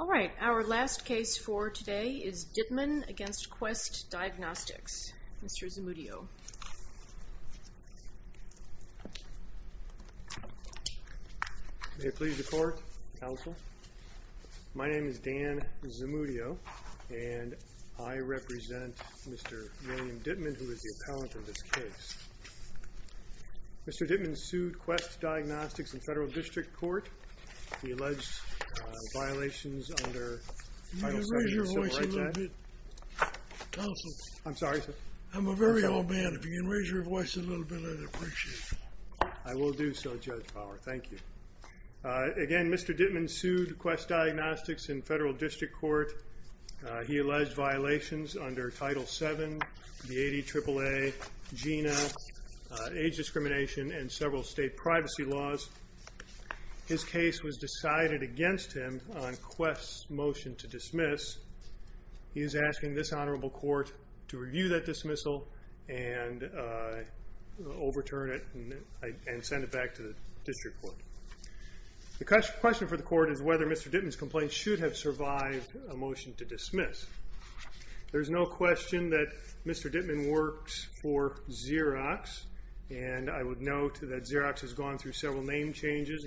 All right, our last case for today is Dittmann v. Quest Diagnostics. Mr. Zamudio. May it please the court, counsel. My name is Dan Zamudio, and I represent Mr. William Dittmann, who is the appellant in this case. Mr. Dittmann sued Quest Diagnostics in federal district court. He alleged violations under Title VII. Can you raise your voice a little bit, counsel? I'm sorry, sir. I'm a very old man. If you can raise your voice a little bit, I'd appreciate it. I will do so, Judge Bauer. Thank you. Again, Mr. Dittmann sued Quest Diagnostics in federal district court. He alleged violations under Title VII, the 80 AAA, GINA, age discrimination, and several state privacy laws. His case was decided against him on Quest's motion to dismiss. He is asking this honorable court to review that dismissal and overturn it and send it back to the district court. The question for the court is whether Mr. Dittmann's complaint should have survived a motion to dismiss. There's no question that Mr. Dittmann works for Xerox, and I would note that Xerox has gone through several name changes.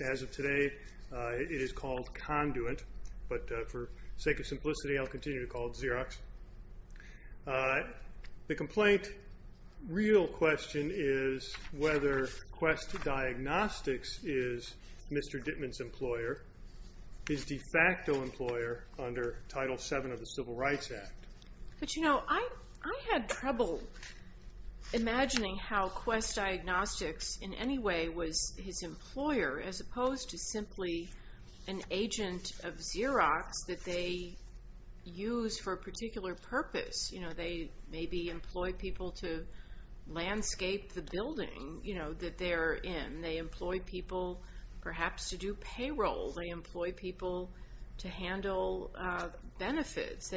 As of today, it is called Conduit, but for sake of simplicity, I'll continue to call it Xerox. The complaint, real question is whether Quest Diagnostics is Mr. Dittmann's employer, his de facto employer under Title VII of the Civil Rights Act. But, you know, I had trouble imagining how Quest Diagnostics in any way was his employer, as opposed to simply an agent of Xerox that they use for a particular purpose. You know, they maybe employ people to landscape the building, you know, that they're in. They employ people perhaps to do payroll. They employ people to handle benefits.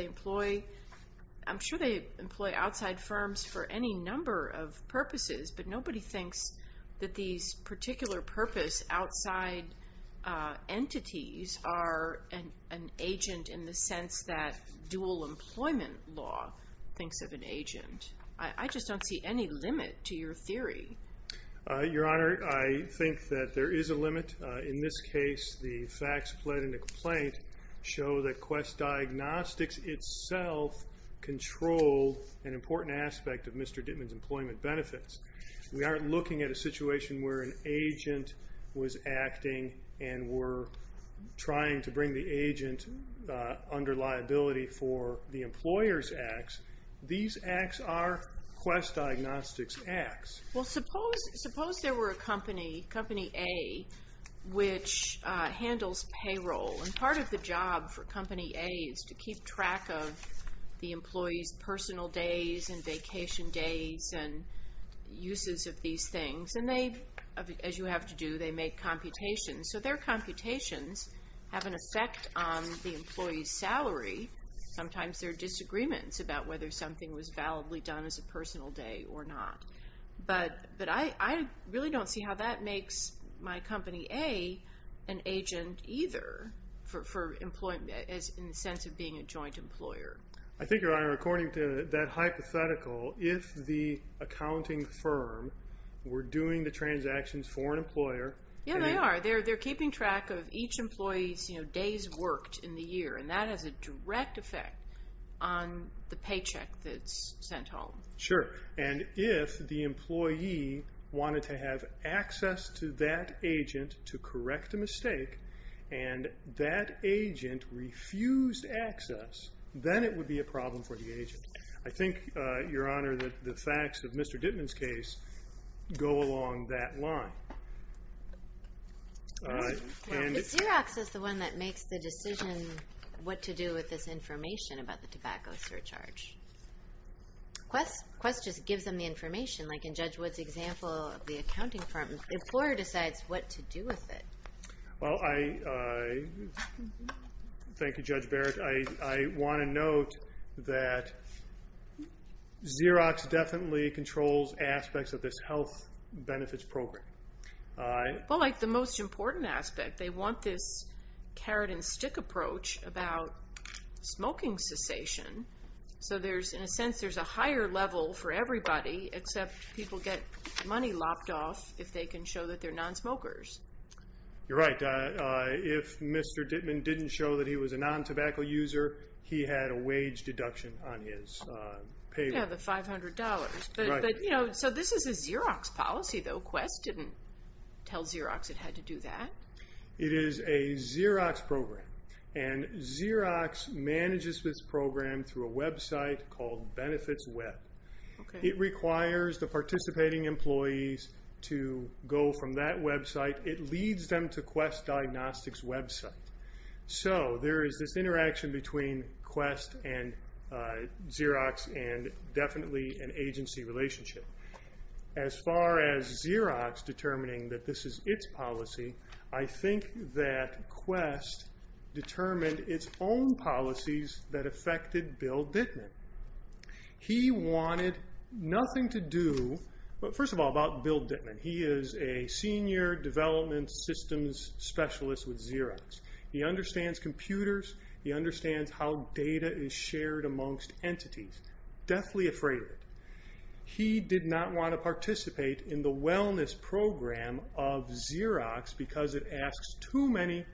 I'm sure they employ outside firms for any number of purposes, but nobody thinks that these particular purpose outside entities are an agent in the sense that dual employment law thinks of an agent. I just don't see any limit to your theory. Your Honor, I think that there is a limit. In this case, the facts played in the complaint show that Quest Diagnostics itself controlled an important aspect of Mr. Dittmann's employment benefits. We aren't looking at a situation where an agent was acting and were trying to bring the agent under liability for the employer's acts. These acts are Quest Diagnostics acts. Well, suppose there were a company, Company A, which handles payroll. And part of the job for Company A is to keep track of the employee's personal days and vacation days and uses of these things. And they, as you have to do, they make computations. So their computations have an effect on the employee's salary. Sometimes there are disagreements about whether something was validly done as a personal day or not. But I really don't see how that makes my Company A an agent either for employment in the sense of being a joint employer. I think, Your Honor, according to that hypothetical, if the accounting firm were doing the transactions for an employer... Yeah, they are. They're keeping track of each employee's days worked in the year. And that has a direct effect on the paycheck that's sent home. Sure. And if the employee wanted to have access to that agent to correct a mistake and that agent refused access, then it would be a problem for the agent. I think, Your Honor, that the facts of Mr. Dittman's case go along that line. Is Xerox the one that makes the decision what to do with this information about the tobacco surcharge? Quest just gives them the information, like in Judge Wood's example of the accounting firm. The employer decides what to do with it. Thank you, Judge Barrett. I want to note that Xerox definitely controls aspects of this health benefits program. Well, like the most important aspect. They want this carrot and stick approach about smoking cessation. So, in a sense, there's a higher level for everybody, except people get money lopped off if they can show that they're nonsmokers. You're right. If Mr. Dittman didn't show that he was a non-tobacco user, he had a wage deduction on his payroll. Yeah, the $500. This is a Xerox policy, though. Quest didn't tell Xerox it had to do that. It is a Xerox program. Xerox manages this program through a website called Benefits Web. It requires the participating employees to go from that website. So, there is this interaction between Quest and Xerox and definitely an agency relationship. As far as Xerox determining that this is its policy, I think that Quest determined its own policies that affected Bill Dittman. He wanted nothing to do, first of all, about Bill Dittman. He is a senior development systems specialist with Xerox. He understands computers. He understands how data is shared amongst entities. Deathly afraid of it. He did not want to participate in the wellness program of Xerox because it asks too many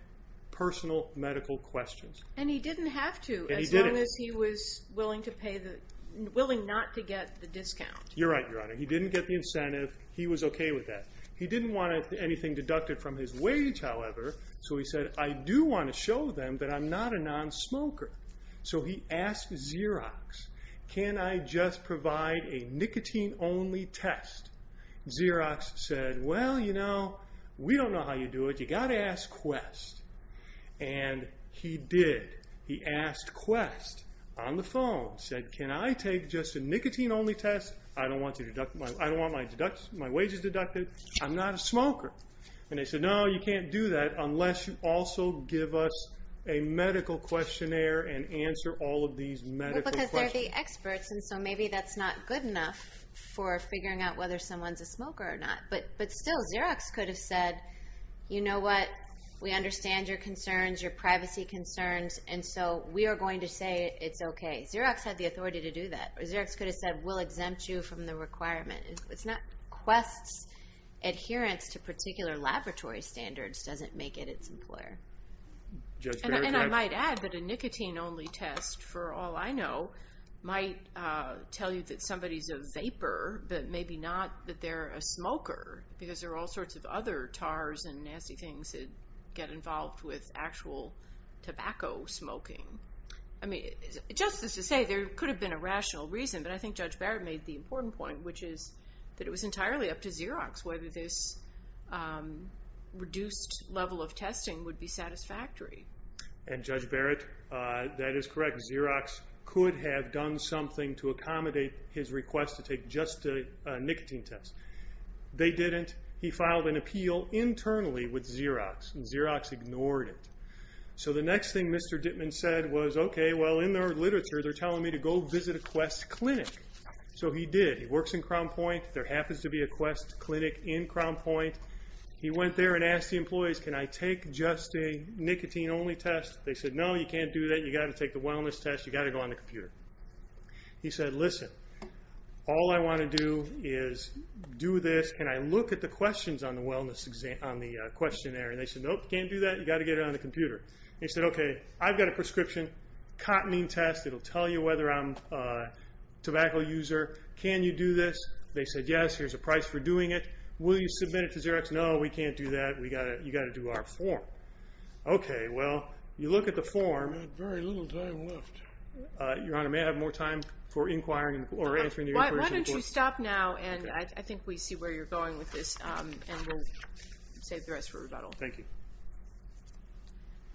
personal medical questions. And he didn't have to, as long as he was willing not to get the discount. He didn't get the incentive. He was okay with that. He didn't want anything deducted from his wage, however. So, he said, I do want to show them that I'm not a non-smoker. So, he asked Xerox, can I just provide a nicotine-only test? Xerox said, well, you know, we don't know how you do it. You've got to ask Quest. And he did. He asked Quest on the phone. He said, can I take just a nicotine-only test? I don't want my wages deducted. I'm not a smoker. And they said, no, you can't do that unless you also give us a medical questionnaire and answer all of these medical questions. Well, because they're the experts, and so maybe that's not good enough for figuring out whether someone's a smoker or not. But still, Xerox could have said, you know what, we understand your concerns, your privacy concerns, and so we are going to say it's okay. Xerox had the authority to do that. Xerox could have said, we'll exempt you from the requirement. It's not Quest's adherence to particular laboratory standards doesn't make it its employer. And I might add that a nicotine-only test, for all I know, might tell you that somebody's a vapor, but maybe not that they're a smoker, because there are all sorts of other tars and nasty things that get involved with actual tobacco smoking. I mean, just as to say, there could have been a rational reason, but I think Judge Barrett made the important point, which is that it was entirely up to Xerox whether this reduced level of testing would be satisfactory. And, Judge Barrett, that is correct. Xerox could have done something to accommodate his request to take just a nicotine test. They didn't. He filed an appeal internally with Xerox, and Xerox ignored it. So the next thing Mr. Dittman said was, okay, well, in their literature, they're telling me to go visit a Quest clinic. So he did. He works in Crown Point. There happens to be a Quest clinic in Crown Point. He went there and asked the employees, can I take just a nicotine-only test? They said, no, you can't do that. You've got to take the wellness test. You've got to go on the computer. He said, listen, all I want to do is do this, and I look at the questions on the questionnaire. And they said, nope, you can't do that. You've got to get it on the computer. He said, okay, I've got a prescription, cotinine test. It will tell you whether I'm a tobacco user. Can you do this? They said, yes, here's a price for doing it. Will you submit it to Xerox? No, we can't do that. You've got to do our form. Okay, well, you look at the form. We've got very little time left. Your Honor, may I have more time for inquiring or answering your inquiries? Why don't you stop now, and I think we see where you're going with this, and we'll save the rest for rebuttal. Thank you.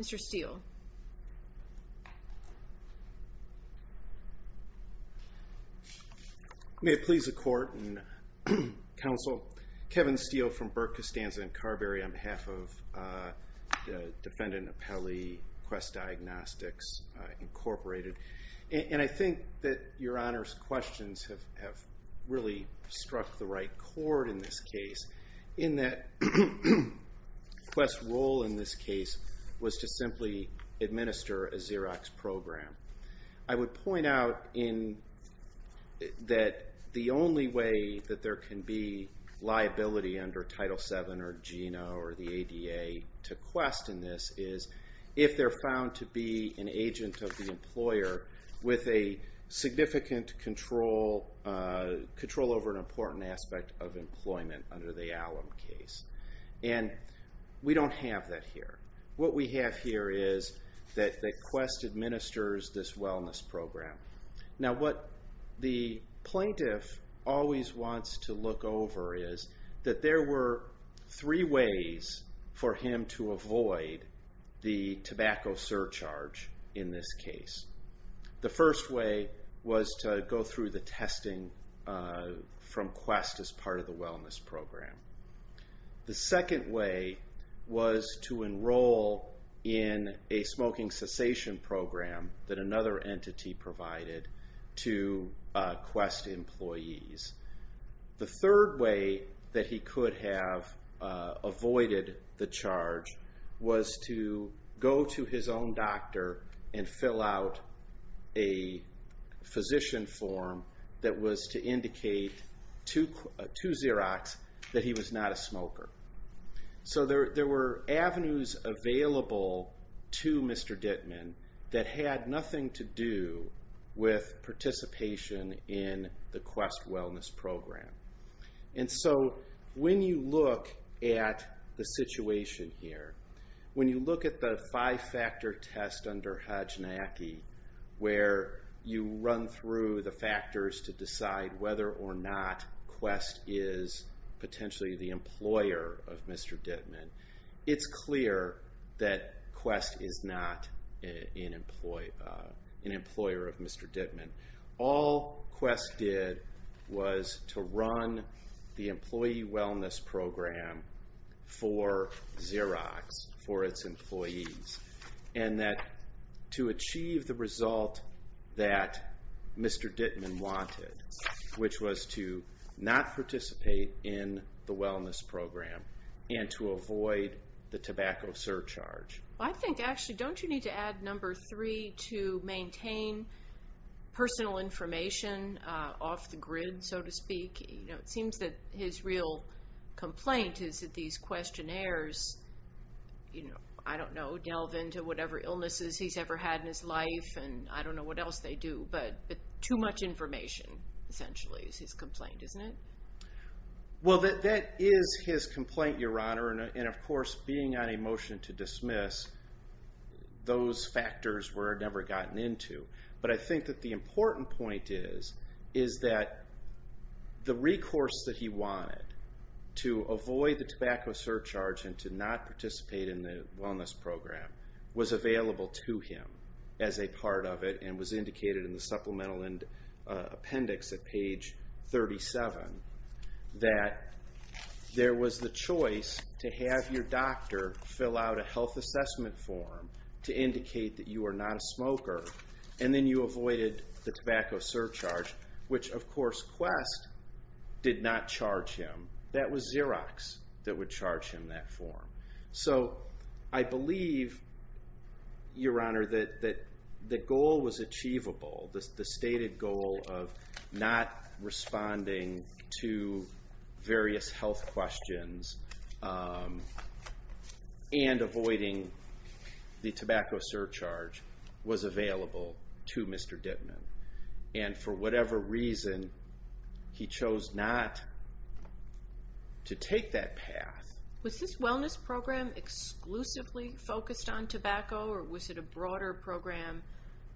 Mr. Steele. May it please the Court and counsel. Kevin Steele from Burke, Costanza, and Carberry on behalf of Defendant Appelli, Quest Diagnostics, Incorporated. I think that your Honor's questions have really struck the right chord in this case, in that Quest's role in this case was to simply administer a Xerox program. I would point out that the only way that there can be liability under Title VII or GINA or the ADA to Quest in this case is if they're found to be an agent of the employer with a significant control over an important aspect of employment under the Allum case. And we don't have that here. What we have here is that Quest administers this wellness program. Now, what the plaintiff always wants to look over is that there were three ways for him to avoid the tobacco surcharge in this case. The first way was to go through the testing from Quest as part of the wellness program. The second way was to enroll in a smoking cessation program that another entity provided to Quest employees. The third way that he could have avoided the charge was to go to his own doctor and fill out a physician form that was to indicate to Xerox that he was not a smoker. So there were avenues available to Mr. Dittman that had nothing to do with participation in the Quest wellness program. And so when you look at the situation here, when you look at the five-factor test under HODGENACCHI where you run through the factors to decide whether or not Quest is potentially the employer of Mr. Dittman, it's clear that Quest is not an employer of Mr. Dittman. All Quest did was to run the employee wellness program for Xerox, for its employees, and to achieve the result that Mr. Dittman wanted, which was to not participate in the wellness program and to avoid the tobacco surcharge. Well, I think, actually, don't you need to add number three to maintain personal information off the grid, so to speak? It seems that his real complaint is that these questionnaires, I don't know, delve into whatever illnesses he's ever had in his life, and I don't know what else they do. But too much information, essentially, is his complaint, isn't it? Well, that is his complaint, Your Honor, and, of course, being on a motion to dismiss, those factors were never gotten into. But I think that the important point is that the recourse that he wanted to avoid the tobacco surcharge and to not participate in the wellness program was available to him as a part of it and was indicated in the supplemental appendix at page 37, that there was the choice to have your doctor fill out a health assessment form to indicate that you are not a smoker, and then you avoided the tobacco surcharge, which, of course, Quest did not charge him. That was Xerox that would charge him that form. So I believe, Your Honor, that the goal was achievable, the stated goal of not responding to various health questions and avoiding the tobacco surcharge was available to Mr. Dittman. And for whatever reason, he chose not to take that path. Was this wellness program exclusively focused on tobacco, or was it a broader program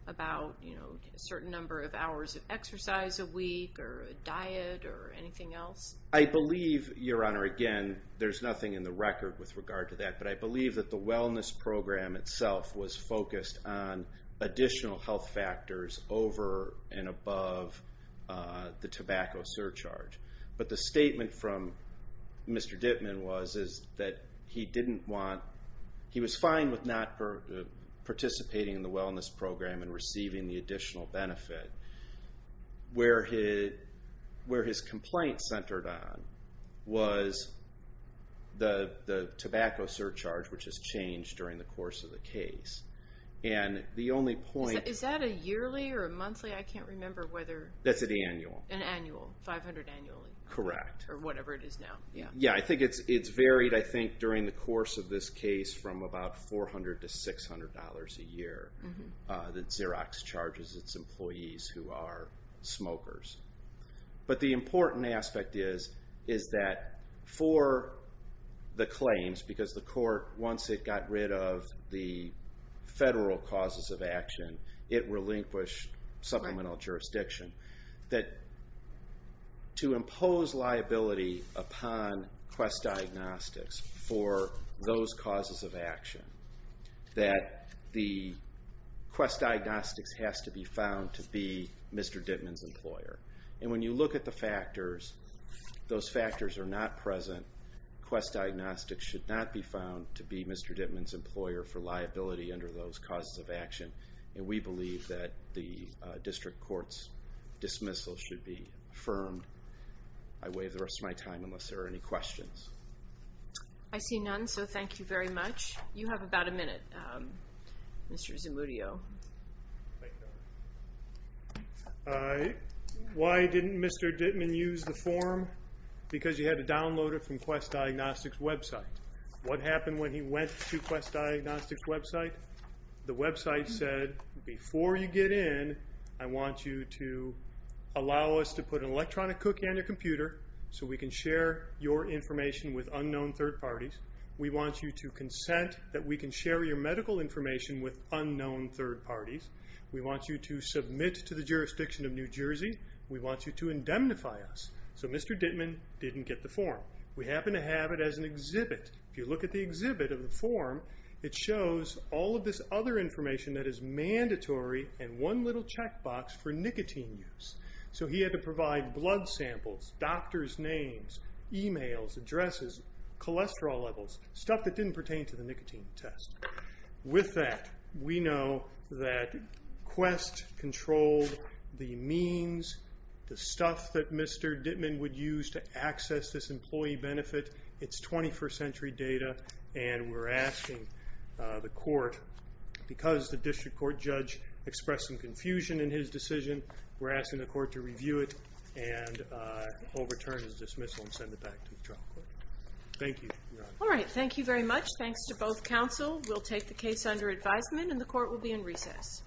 about a certain number of hours of exercise a week or a diet or anything else? I believe, Your Honor, again, there's nothing in the record with regard to that, but I believe that the wellness program itself was focused on additional health factors over and above the tobacco surcharge. But the statement from Mr. Dittman was that he was fine with not participating in the wellness program and receiving the additional benefit. Where his complaint centered on was the tobacco surcharge, which has changed during the course of the case. Is that a yearly or a monthly? I can't remember whether- That's an annual. An annual, 500 annually. Correct. Or whatever it is now. Yeah, I think it's varied, I think, during the course of this case from about $400 to $600 a year that Xerox charges its employees who are smokers. But the important aspect is that for the claims, because the court, once it got rid of the federal causes of action, it relinquished supplemental jurisdiction, that to impose liability upon Quest Diagnostics for those causes of action, that the Quest Diagnostics has to be found to be Mr. Dittman's employer. And when you look at the factors, those factors are not present. Quest Diagnostics should not be found to be Mr. Dittman's employer for liability under those causes of action. And we believe that the district court's dismissal should be affirmed. I waive the rest of my time unless there are any questions. I see none, so thank you very much. You have about a minute, Mr. Zamudio. Thank you. Why didn't Mr. Dittman use the form? Because you had to download it from Quest Diagnostics' website. What happened when he went to Quest Diagnostics' website? The website said, before you get in, I want you to allow us to put an electronic cookie on your computer so we can share your information with unknown third parties. We want you to consent that we can share your medical information with unknown third parties. We want you to submit to the jurisdiction of New Jersey. We want you to indemnify us. So Mr. Dittman didn't get the form. We happen to have it as an exhibit. If you look at the exhibit of the form, it shows all of this other information that is mandatory and one little checkbox for nicotine use. So he had to provide blood samples, doctor's names, e-mails, addresses, cholesterol levels, stuff that didn't pertain to the nicotine test. With that, we know that Quest controlled the means, the stuff that Mr. Dittman would use to access this employee benefit. It's 21st century data, and we're asking the court, because the district court judge expressed some confusion in his decision, we're asking the court to review it and overturn his dismissal and send it back to the trial court. Thank you. All right. Thank you very much. Thanks to both counsel. We'll take the case under advisement, and the court will be in recess.